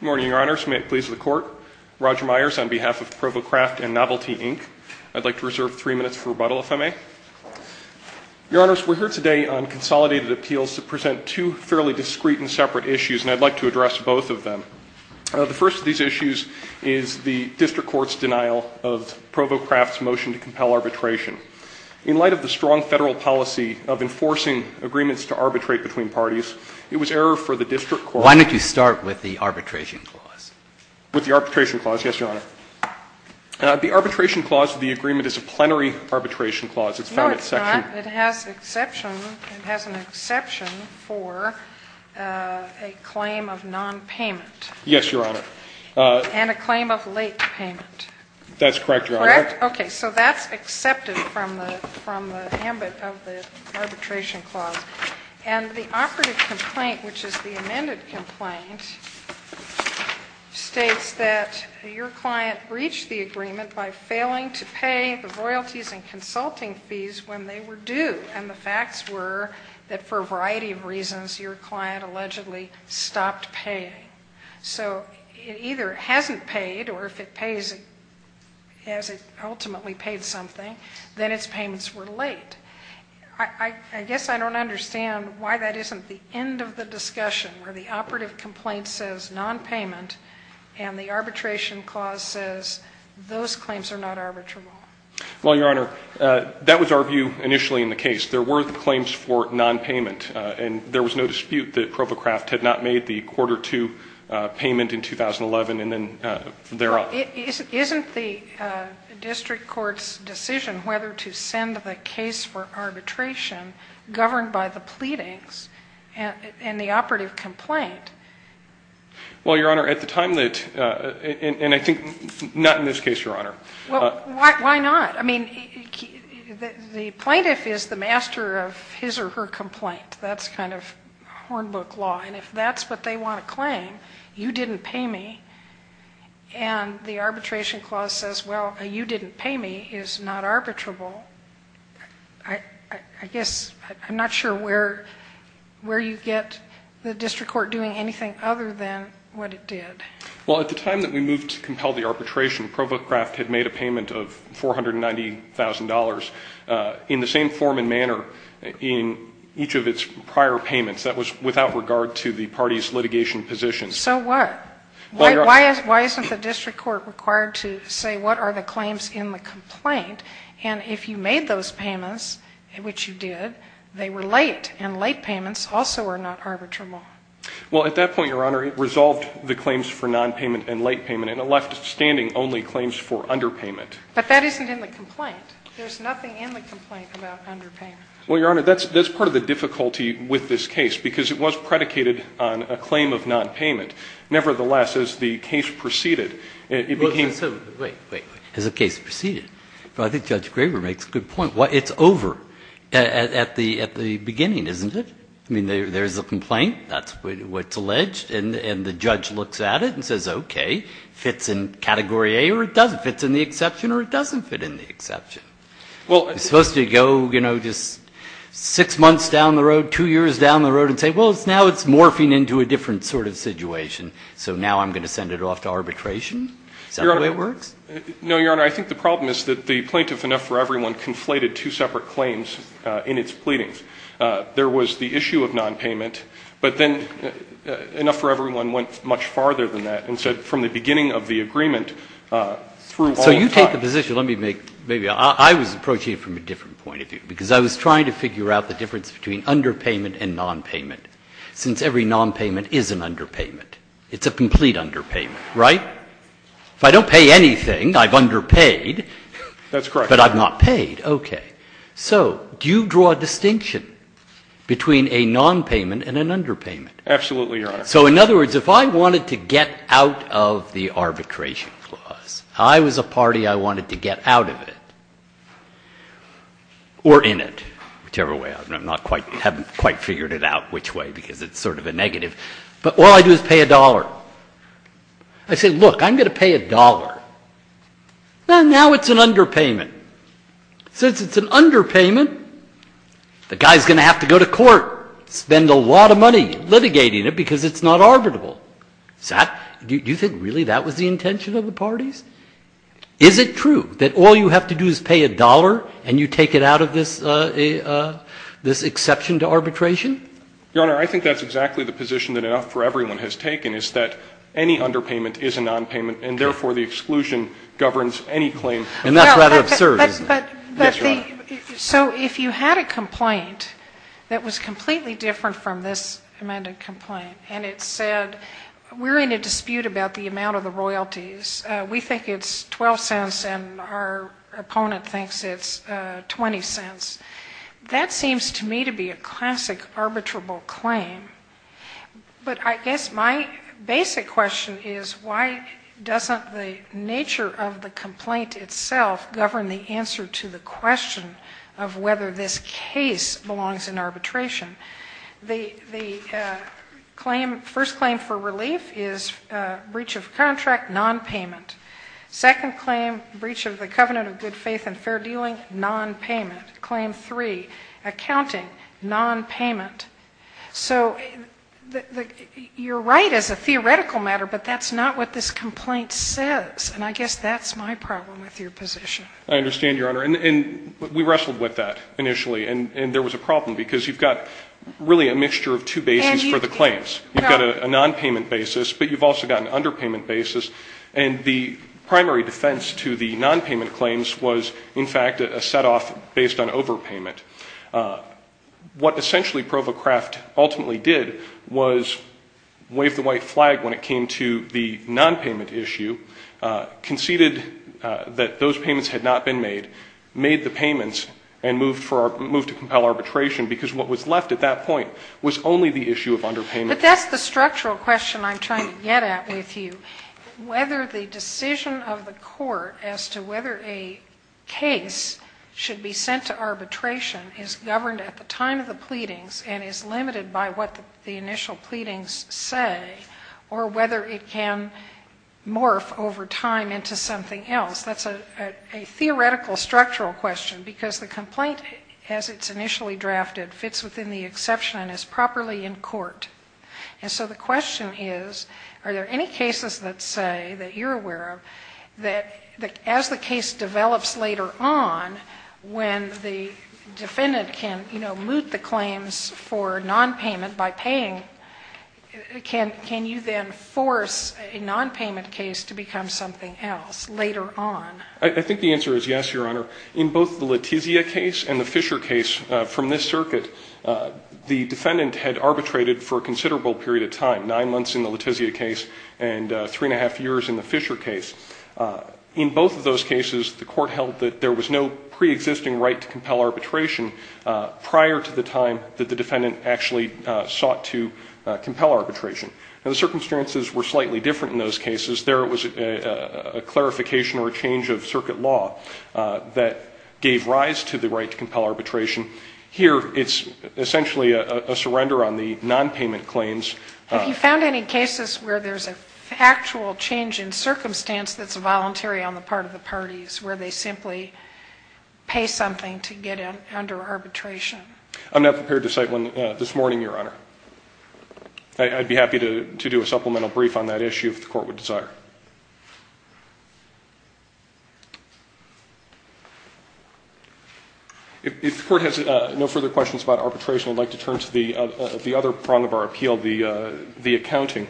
Good morning, Your Honors. May it please the Court, Roger Myers on behalf of Provo Craft and Novelty, Inc. I'd like to reserve three minutes for rebuttal, if I may. Your Honors, we're here today on consolidated appeals to present two fairly discrete and separate issues, and I'd like to address both of them. The first of these issues is the District Court's denial of Provo Craft's motion to compel arbitration. In light of the strong federal policy of enforcing agreements to arbitrate between parties, it was error for the District Court Why don't you start with the arbitration clause? With the arbitration clause, yes, Your Honor. The arbitration clause of the agreement is a plenary arbitration clause. No, it's not. It has an exception for a claim of nonpayment. Yes, Your Honor. And a claim of late payment. That's correct, Your Honor. Correct? Okay. So that's accepted from the ambit of the arbitration clause. And the operative complaint, which is the amended complaint, states that your client breached the agreement by failing to pay the royalties and consulting fees when they were due, and the facts were that for a variety of reasons, your client allegedly stopped paying. So it either hasn't paid, or if it pays, has it ultimately paid something, then its payments were late. I guess I don't understand why that isn't the end of the discussion where the operative complaint says nonpayment and the arbitration clause says those claims are not arbitrable. Well, Your Honor, that was our view initially in the case. There were claims for nonpayment, and there was no dispute that ProvoCraft had not made the quarter two payment in 2011 and then thereof. Isn't the district court's decision whether to send the case for arbitration governed by the pleadings and the operative complaint? Well, Your Honor, at the time that, and I think not in this case, Your Honor. Why not? I mean, the plaintiff is the master of his or her complaint. That's kind of hornbook law. And if that's what they want to claim, you didn't pay me, and the arbitration clause says, well, you didn't pay me, is not arbitrable, I guess I'm not sure where you get the district court doing anything other than what it did. Well, at the time that we moved to compel the arbitration, ProvoCraft had made a payment of $490,000. In the same form and manner in each of its prior payments. That was without regard to the party's litigation position. So what? Why isn't the district court required to say what are the claims in the complaint? And if you made those payments, which you did, they were late, and late payments also are not arbitrable. Well, at that point, Your Honor, it resolved the claims for nonpayment and late payment, and it left standing only claims for underpayment. But that isn't in the complaint. There's nothing in the complaint about underpayment. Well, Your Honor, that's part of the difficulty with this case, because it was predicated on a claim of nonpayment. Nevertheless, as the case proceeded, it became so. Wait, wait, wait. As the case proceeded? Well, I think Judge Graber makes a good point. It's over at the beginning, isn't it? I mean, there's a complaint. That's what's alleged. And the judge looks at it and says, okay, fits in category A, or it doesn't fit in the exception, or it doesn't fit in the exception. It's supposed to go, you know, just six months down the road, two years down the road, and say, well, now it's morphing into a different sort of situation. So now I'm going to send it off to arbitration? Is that the way it works? No, Your Honor. I think the problem is that the plaintiff, enough for everyone, conflated two separate claims in its pleadings. There was the issue of nonpayment, but then enough for everyone went much farther than that. And so from the beginning of the agreement through all the time. So you take the position, let me make, maybe I was approaching it from a different point of view, because I was trying to figure out the difference between underpayment and nonpayment, since every nonpayment is an underpayment. It's a complete underpayment, right? If I don't pay anything, I've underpaid. That's correct. But I've not paid. Okay. So do you draw a distinction between a nonpayment and an underpayment? Absolutely, Your Honor. So in other words, if I wanted to get out of the arbitration clause, I was a party I wanted to get out of it or in it, whichever way. I haven't quite figured it out which way, because it's sort of a negative. But all I do is pay a dollar. I say, look, I'm going to pay a dollar. Well, now it's an underpayment. Since it's an underpayment, the guy is going to have to go to court, spend a lot of money litigating it because it's not arbitrable. Do you think really that was the intention of the parties? Is it true that all you have to do is pay a dollar and you take it out of this exception to arbitration? Your Honor, I think that's exactly the position that enough for everyone has taken, is that any underpayment is a nonpayment, and therefore the exclusion governs any claim. And that's rather absurd, isn't it? Yes, Your Honor. So if you had a complaint that was completely different from this amended complaint and it said, we're in a dispute about the amount of the royalties, we think it's 12 cents and our opponent thinks it's 20 cents, that seems to me to be a classic arbitrable claim. But I guess my basic question is, why doesn't the nature of the complaint itself govern the answer to the question of whether this case belongs in arbitration? The first claim for relief is breach of contract, nonpayment. Second claim, breach of the covenant of good faith and fair dealing, nonpayment. Claim three, accounting, nonpayment. So you're right as a theoretical matter, but that's not what this complaint says. And I guess that's my problem with your position. I understand, Your Honor. And we wrestled with that initially. And there was a problem, because you've got really a mixture of two bases for the claims. You've got a nonpayment basis, but you've also got an underpayment basis. And the primary defense to the nonpayment claims was, in fact, a setoff based on overpayment. What essentially ProvoCraft ultimately did was wave the white flag when it came to the nonpayment issue, conceded that those payments had not been made, made the payments and moved to compel arbitration, because what was left at that point was only the issue of underpayment. But that's the structural question I'm trying to get at with you. Whether the decision of the court as to whether a case should be sent to arbitration is governed at the time of the pleadings and is limited by what the initial pleadings say or whether it can morph over time into something else, that's a theoretical structural question, because the complaint, as it's initially drafted, fits within the exception and is properly in court. And so the question is, are there any cases that say, that you're aware of, that as the case develops later on, when the defendant can, you know, moot the claims for nonpayment by paying, can you then force a nonpayment case to become something else later on? I think the answer is yes, Your Honor. In both the Letizia case and the Fisher case from this circuit, the defendant had arbitrated for a considerable period of time, nine months in the Letizia case and three and a half years in the Fisher case. In both of those cases, the court held that there was no preexisting right to compel arbitration prior to the time that the defendant actually sought to compel arbitration. Now, the circumstances were slightly different in those cases. There was a clarification or a change of circuit law that gave rise to the right to compel arbitration. Here, it's essentially a surrender on the nonpayment claims. Have you found any cases where there's an actual change in circumstance that's voluntary on the part of the parties, where they simply pay something to get under arbitration? I'm not prepared to cite one this morning, Your Honor. I'd be happy to do a supplemental brief on that issue if the court would desire. If the court has no further questions about arbitration, I'd like to turn to the other prong of our appeal, the accounting.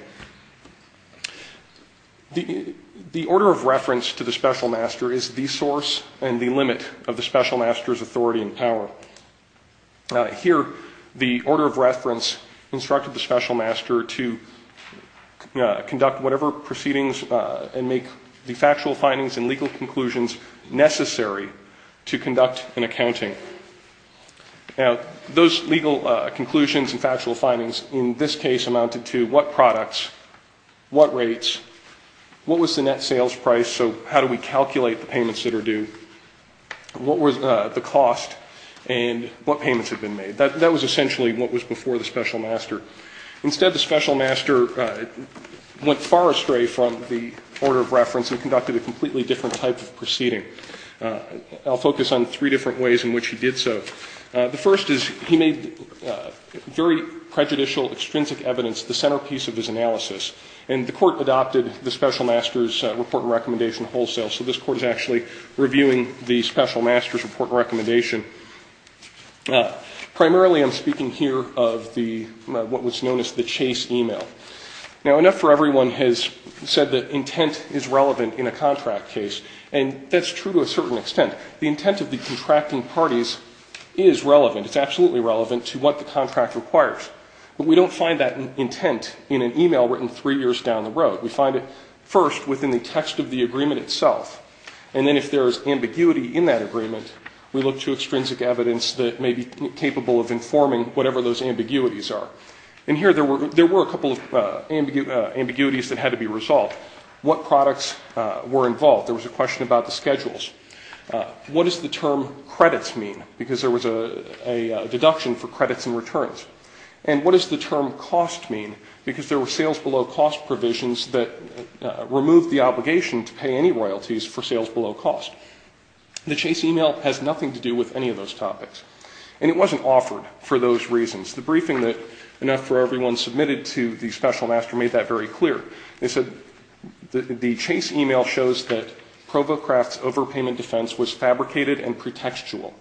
The order of reference to the special master is the source and the limit of the special master's authority and power. Here, the order of reference instructed the special master to conduct whatever proceedings and make the factual findings and legal conclusions necessary to conduct an accounting. Now, those legal conclusions and factual findings in this case amounted to what products, what rates, what was the net sales price, so how do we calculate the payments that are due, what was the cost, and what payments have been made. That was essentially what was before the special master. Instead, the special master went far astray from the order of reference and conducted a completely different type of proceeding. I'll focus on three different ways in which he did so. The first is he made very prejudicial, extrinsic evidence the centerpiece of his analysis, and the court adopted the special master's report and recommendation wholesale. So this court is actually reviewing the special master's report and recommendation. Primarily, I'm speaking here of what was known as the chase email. Now, enough for everyone has said that intent is relevant in a contract case, and that's true to a certain extent. The intent of the contracting parties is relevant. It's absolutely relevant to what the contract requires. But we don't find that intent in an email written three years down the road. We find it first within the text of the agreement itself, and then if there is ambiguity in that agreement, we look to extrinsic evidence that may be capable of informing whatever those ambiguities are. And here there were a couple of ambiguities that had to be resolved. What products were involved? There was a question about the schedules. What does the term credits mean? Because there was a deduction for credits and returns. And what does the term cost mean? Because there were sales below cost provisions that removed the obligation to pay any royalties for sales below cost. The chase email has nothing to do with any of those topics. And it wasn't offered for those reasons. The briefing that enough for everyone submitted to the special master made that very clear. They said the chase email shows that ProvoCraft's overpayment defense was fabricated and pretextual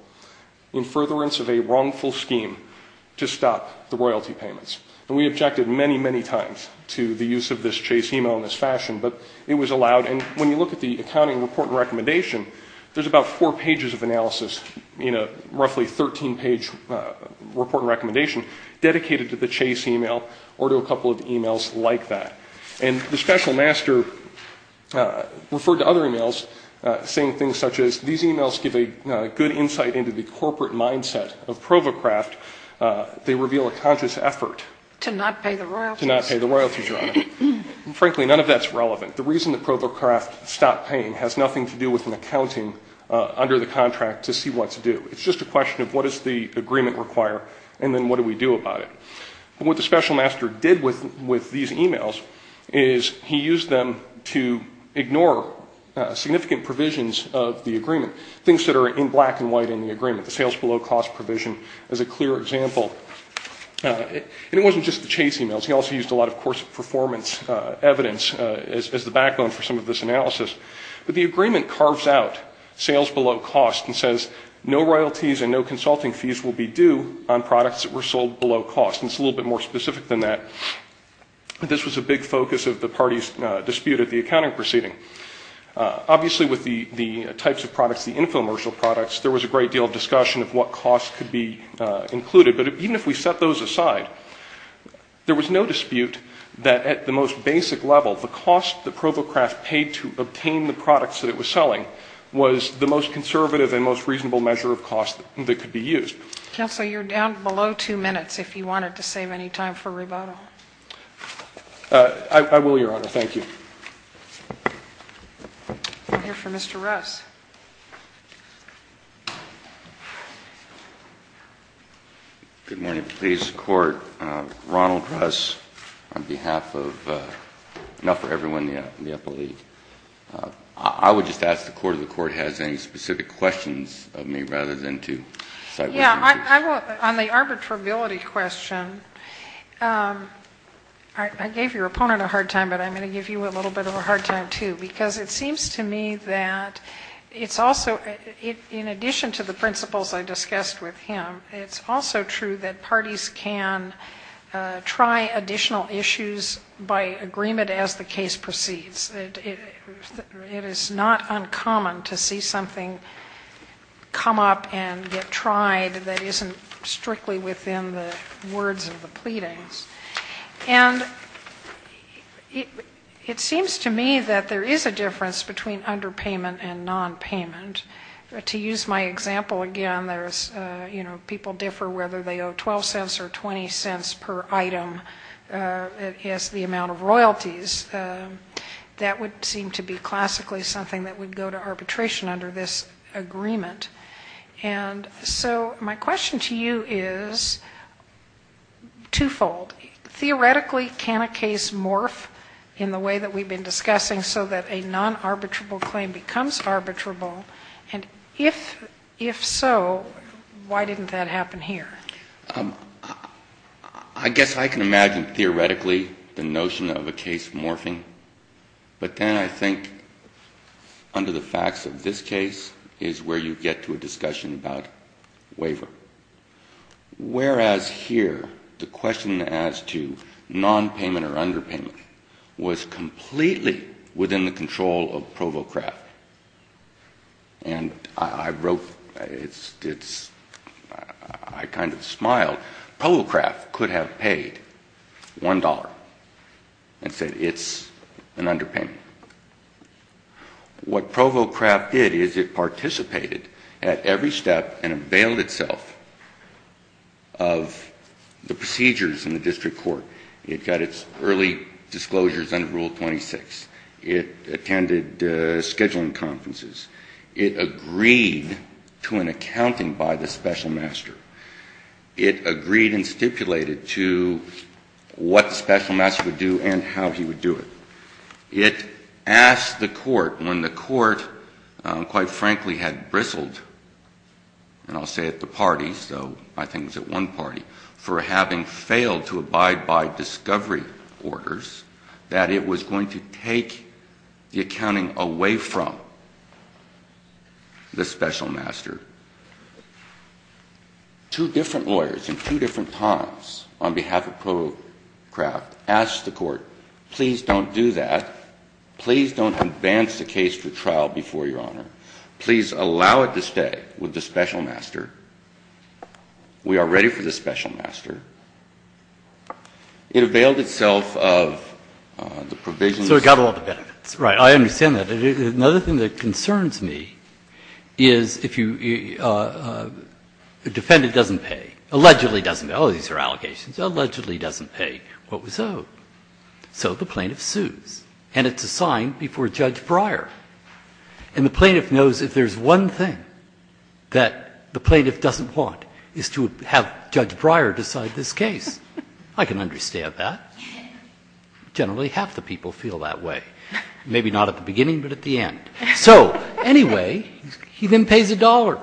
in furtherance of a wrongful scheme to stop the royalty payments. And we objected many, many times to the use of this chase email in this fashion, but it was allowed. And when you look at the accounting report and recommendation, there's about four pages of analysis in a roughly 13-page report and recommendation dedicated to the chase email or to a couple of emails like that. And the special master referred to other emails saying things such as, these emails give a good insight into the corporate mindset of ProvoCraft. They reveal a conscious effort. To not pay the royalties. To not pay the royalties, Your Honor. And frankly, none of that's relevant. The reason that ProvoCraft stopped paying has nothing to do with an accounting under the contract to see what to do. It's just a question of what does the agreement require and then what do we do about it. What the special master did with these emails is he used them to ignore significant provisions of the agreement. Things that are in black and white in the agreement. The sales below cost provision is a clear example. And it wasn't just the chase emails. He also used a lot of course performance evidence as the backbone for some of this analysis. But the agreement carves out sales below cost and says, no royalties and no consulting fees will be due on products that were sold below cost. And it's a little bit more specific than that. This was a big focus of the party's dispute at the accounting proceeding. Obviously with the types of products, the infomercial products, there was a great deal of discussion of what costs could be included. But even if we set those aside, there was no dispute that at the most basic level, the cost that Provo Craft paid to obtain the products that it was selling was the most conservative and most reasonable measure of cost that could be used. Counsel, you're down below two minutes if you wanted to save any time for rebuttal. I will, Your Honor. Thank you. We'll hear from Mr. Russ. Good morning, please. Mr. Court, Ronald Russ on behalf of, not for everyone in the upper league. I would just ask the Court if the Court has any specific questions of me rather than to side with you. On the arbitrability question, I gave your opponent a hard time, but I'm going to give you a little bit of a hard time, too. Because it seems to me that it's also, in addition to the principles I discussed with him, it's also true that parties can try additional issues by agreement as the case proceeds. It is not uncommon to see something come up and get tried that isn't strictly within the words of the pleadings. And it seems to me that there is a difference between underpayment and nonpayment. To use my example again, people differ whether they owe 12 cents or 20 cents per item as the amount of royalties. That would seem to be classically something that would go to arbitration under this agreement. And so my question to you is twofold. Theoretically, can a case morph in the way that we've been discussing so that a non-arbitrable claim becomes arbitrable? And if so, why didn't that happen here? I guess I can imagine theoretically the notion of a case morphing. But then I think under the facts of this case is where you get to a discussion about waiver. Whereas here, the question as to nonpayment or underpayment was completely within the control of ProvoCraft. And I wrote, I kind of smiled, ProvoCraft could have paid $1 and said it's an underpayment. What ProvoCraft did is it participated at every step and availed itself of the procedures in the district court. It got its early disclosures under Rule 26. It attended scheduling conferences. It agreed to an accounting by the special master. It agreed and stipulated to what the special master would do and how he would do it. It asked the court when the court, quite frankly, had bristled, and I'll say at the parties, though I think it was at one party, for having failed to abide by discovery orders, that it was going to take the accounting away from the special master. Two different lawyers in two different times on behalf of ProvoCraft asked the court, please don't do that. Please don't advance the case for trial before your Honor. Please allow it to stay with the special master. We are ready for the special master. It availed itself of the provisions. Breyer. So it got all the benefits. Right. I understand that. Another thing that concerns me is if you defend it doesn't pay. Allegedly doesn't pay. Oh, these are allegations. Allegedly doesn't pay what was owed. So the plaintiff sues. And it's assigned before Judge Breyer. And the plaintiff knows if there's one thing that the plaintiff doesn't want is to have Judge Breyer decide this case. I can understand that. Generally half the people feel that way. Maybe not at the beginning, but at the end. So anyway, he then pays a dollar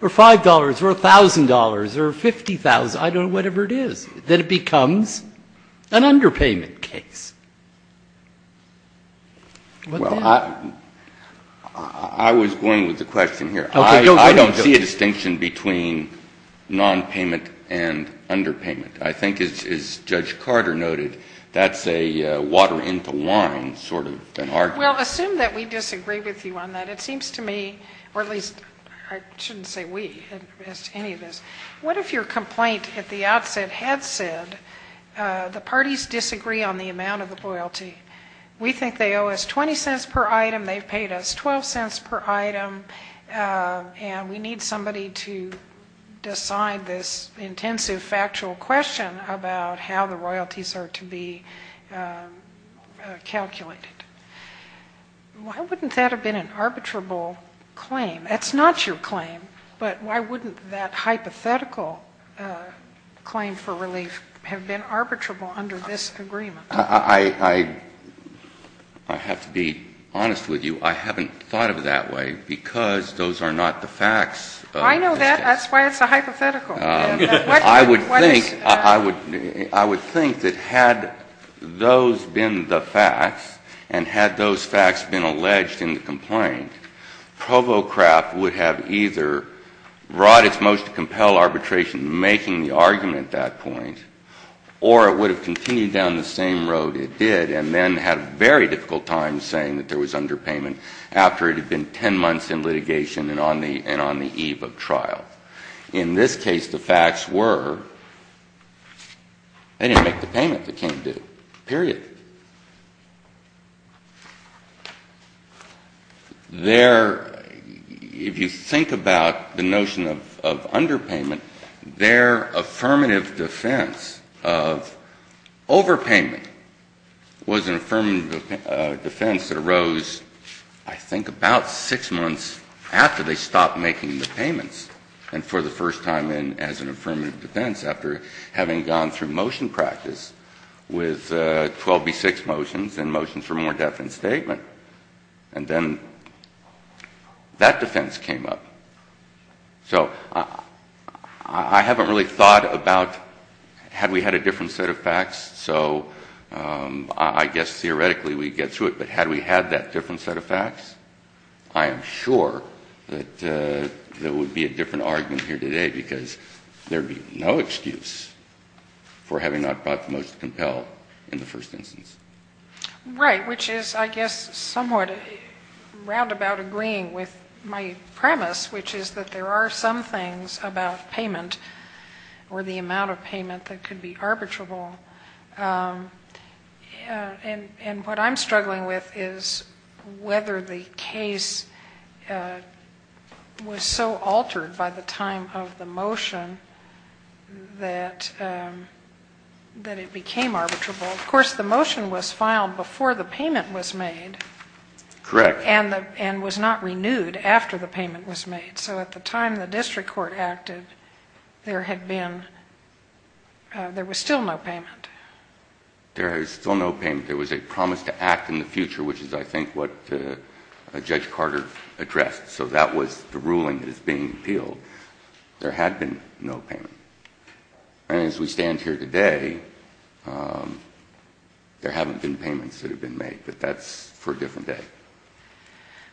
or $5 or $1,000 or 50,000, I don't know, whatever it is. Then it becomes an underpayment case. Well, I was going with the question here. I don't see a distinction between nonpayment and underpayment. I think, as Judge Carter noted, that's a water into wine sort of an argument. Well, assume that we disagree with you on that. It seems to me, or at least I shouldn't say we as to any of this. What if your complaint at the outset had said the parties disagree on the amount of the royalty? We think they owe us $0.20 per item. They've paid us $0.12 per item. And we need somebody to decide this intensive factual question about how the royalties are to be calculated. Why wouldn't that have been an arbitrable claim? That's not your claim, but why wouldn't that hypothetical claim for relief have been arbitrable under this agreement? I have to be honest with you. I haven't thought of it that way because those are not the facts. I know that. That's why it's a hypothetical. I would think that had those been the facts and had those facts been alleged in the complaint, Provo Craft would have either brought its motion to compel arbitration making the argument at that point, or it would have continued down the same road it did and then had a very difficult time saying that there was underpayment after it had been 10 months in litigation and on the eve of trial. In this case, the facts were they didn't make the payment. They can't do it. Period. If you think about the notion of underpayment, their affirmative defense of overpayment was an affirmative defense that arose, I think, about 6 months after they stopped making the payments and for the first time as an affirmative defense after having gone through motion practice with 12B6 motions and motions for more definite statement. And then that defense came up. So I haven't really thought about had we had a different set of facts. So I guess theoretically we'd get through it. But had we had that different set of facts, I am sure that there would be a different argument here today because there would be no excuse for having not brought the motion to compel in the first instance. Right, which is, I guess, somewhat roundabout agreeing with my premise, which is that there are some things about payment or the amount of payment that could be arbitrable. And what I'm struggling with is whether the case was so altered by the time of the motion that it became arbitrable. Of course, the motion was filed before the payment was made. Correct. And was not renewed after the payment was made. And so at the time the district court acted, there was still no payment. There was still no payment. There was a promise to act in the future, which is, I think, what Judge Carter addressed. So that was the ruling that is being appealed. There had been no payment. And as we stand here today, there haven't been payments that have been made. But that's for a different day.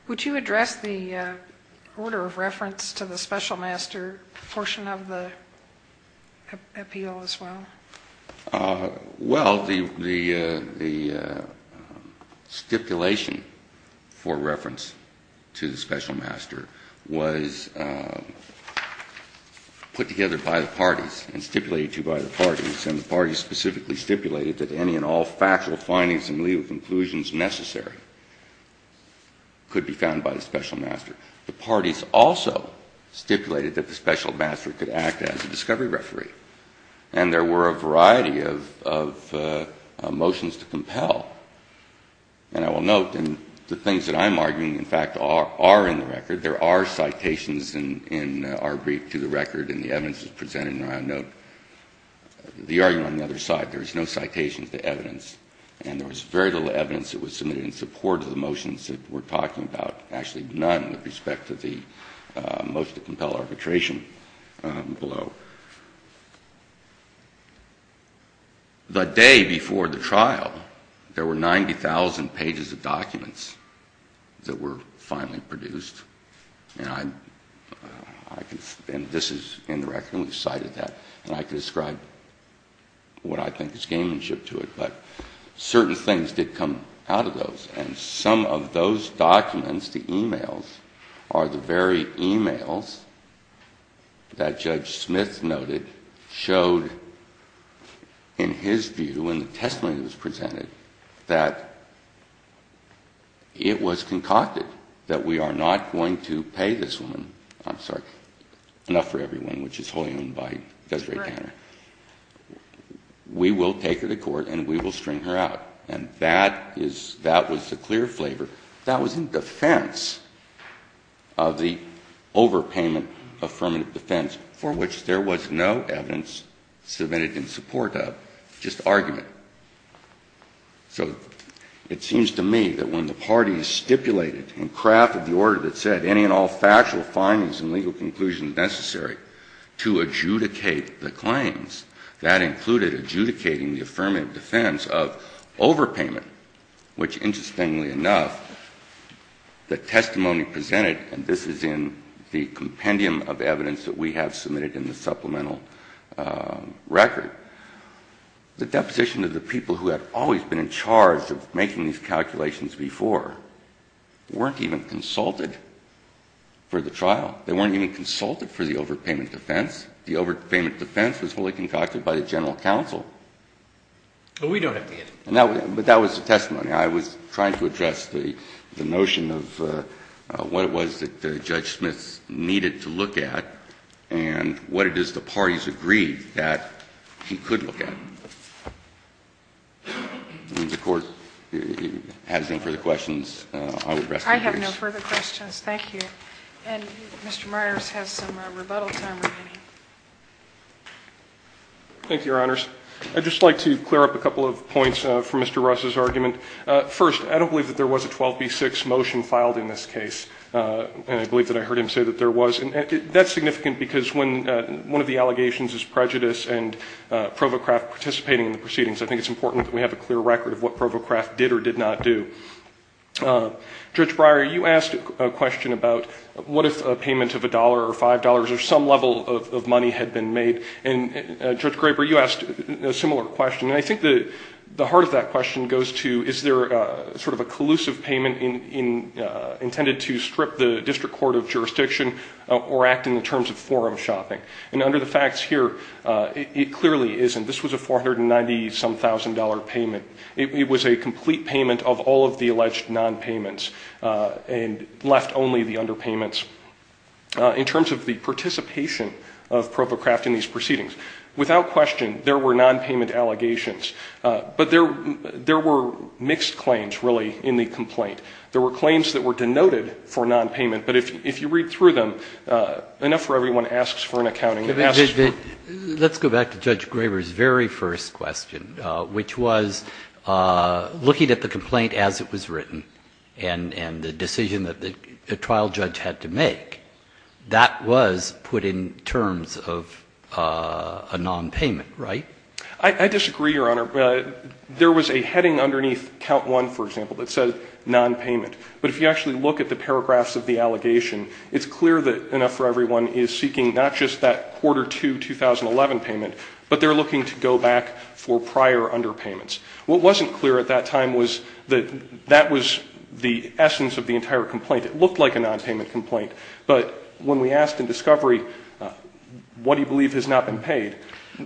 Would you address the order of reference to the special master portion of the appeal as well? Well, the stipulation for reference to the special master was put together by the parties and stipulated to by the parties. And the parties specifically stipulated that any and all factual findings and legal conclusions necessary could be found by the special master. The parties also stipulated that the special master could act as a discovery referee. And there were a variety of motions to compel. And I will note, and the things that I'm arguing, in fact, are in the record. There are citations in our brief to the record, and the evidence is presented, and I'll note the argument on the other side. There is no citation to evidence. And there was very little evidence that was submitted in support of the motions that we're talking about. Actually, none with respect to the motion to compel arbitration below. The day before the trial, there were 90,000 pages of documents that were finally produced. And this is in the record, and we've cited that. And I could describe what I think is gamemanship to it. But certain things did come out of those. And some of those documents, the e-mails, are the very e-mails that Judge Smith noted showed, in his view, in the testimony that was presented, that it was concocted, that we are not going to pay this woman, I'm sorry, enough for everyone, which is wholly owned by Desiree Tanner. We will take her to court and we will string her out. And that is the clear flavor. That was in defense of the overpayment affirmative defense, for which there was no evidence submitted in support of, just argument. So it seems to me that when the parties stipulated and crafted the order that said any and all factual findings and legal conclusions necessary to adjudicate the claims, that included adjudicating the affirmative defense of overpayment, which interestingly enough, the testimony presented, and this is in the compendium of evidence that we have submitted in the supplemental record, the deposition of the people who had always been in charge of making these calculations before, weren't even consulted for the trial. They weren't even consulted for the overpayment defense. The overpayment defense was wholly concocted by the general counsel. But that was the testimony. I was trying to address the notion of what it was that Judge Smith needed to look at and what it is the parties agreed that he could look at. If the Court has no further questions, I will rest my case. I have no further questions. Thank you. And Mr. Myers has some rebuttal time remaining. Thank you, Your Honors. I would just like to clear up a couple of points from Mr. Russ's argument. First, I don't believe that there was a 12B6 motion filed in this case, and I believe that I heard him say that there was. That's significant because when one of the allegations is prejudice and ProvoCraft participating in the proceedings, I think it's important that we have a clear record of what ProvoCraft did or did not do. Judge Breyer, you asked a question about what if a payment of $1 or $5 or some level of money had been made, and Judge Graber, you asked a similar question. I think the heart of that question goes to is there sort of a collusive payment intended to strip the district court of jurisdiction or act in the terms of forum shopping. And under the facts here, it clearly isn't. This was a $490-some-thousand payment. It was a complete payment of all of the alleged nonpayments and left only the underpayments. In terms of the participation of ProvoCraft in these proceedings, without question, there were nonpayment allegations. But there were mixed claims, really, in the complaint. There were claims that were denoted for nonpayment, but if you read through them, enough for everyone asks for an accounting estimate. Let's go back to Judge Graber's very first question, which was looking at the complaint as it was written and the decision that the trial judge had to make. That was put in terms of a nonpayment, right? I disagree, Your Honor. There was a heading underneath count one, for example, that said nonpayment. But if you actually look at the paragraphs of the allegation, it's clear that enough for everyone is seeking not just that quarter two 2011 payment, but they're looking to go back for prior underpayments. What wasn't clear at that time was that that was the essence of the entire complaint. It looked like a nonpayment complaint. But when we asked in discovery, what do you believe has not been paid?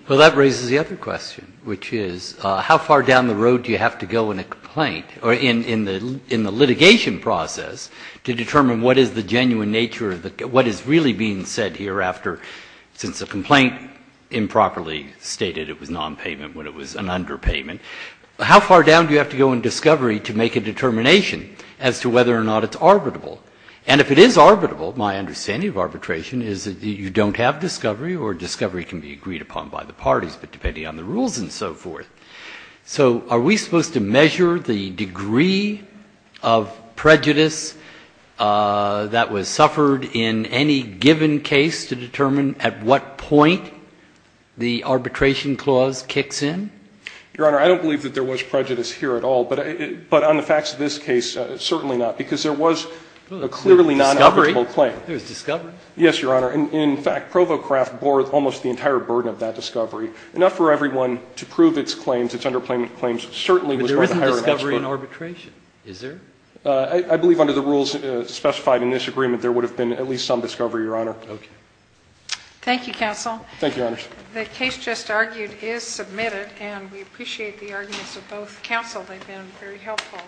Well, that raises the other question, which is how far down the road do you have to go in a complaint or in the litigation process to determine what is the genuine nature of what is really being said hereafter, since the complaint improperly stated it was nonpayment when it was an underpayment? How far down do you have to go in discovery to make a determination as to whether or not it's arbitrable? And if it is arbitrable, my understanding of arbitration is that you don't have discovery or discovery can be agreed upon by the parties, but depending on the rules and so forth. So are we supposed to measure the degree of prejudice that was suffered in any given case to determine at what point the arbitration clause kicks in? Your Honor, I don't believe that there was prejudice here at all. But on the facts of this case, certainly not, because there was a clearly non-arbitrable claim. There was discovery? Yes, Your Honor. In fact, ProvoCraft bore almost the entire burden of that discovery. Enough for everyone to prove its claims, its underpayment claims, certainly was worth a higher tax point. But there isn't discovery in arbitration, is there? I believe under the rules specified in this agreement, there would have been at least some discovery, Your Honor. Okay. Thank you, counsel. Thank you, Your Honor. The case just argued is submitted, and we appreciate the arguments of both counsel. They've been very helpful.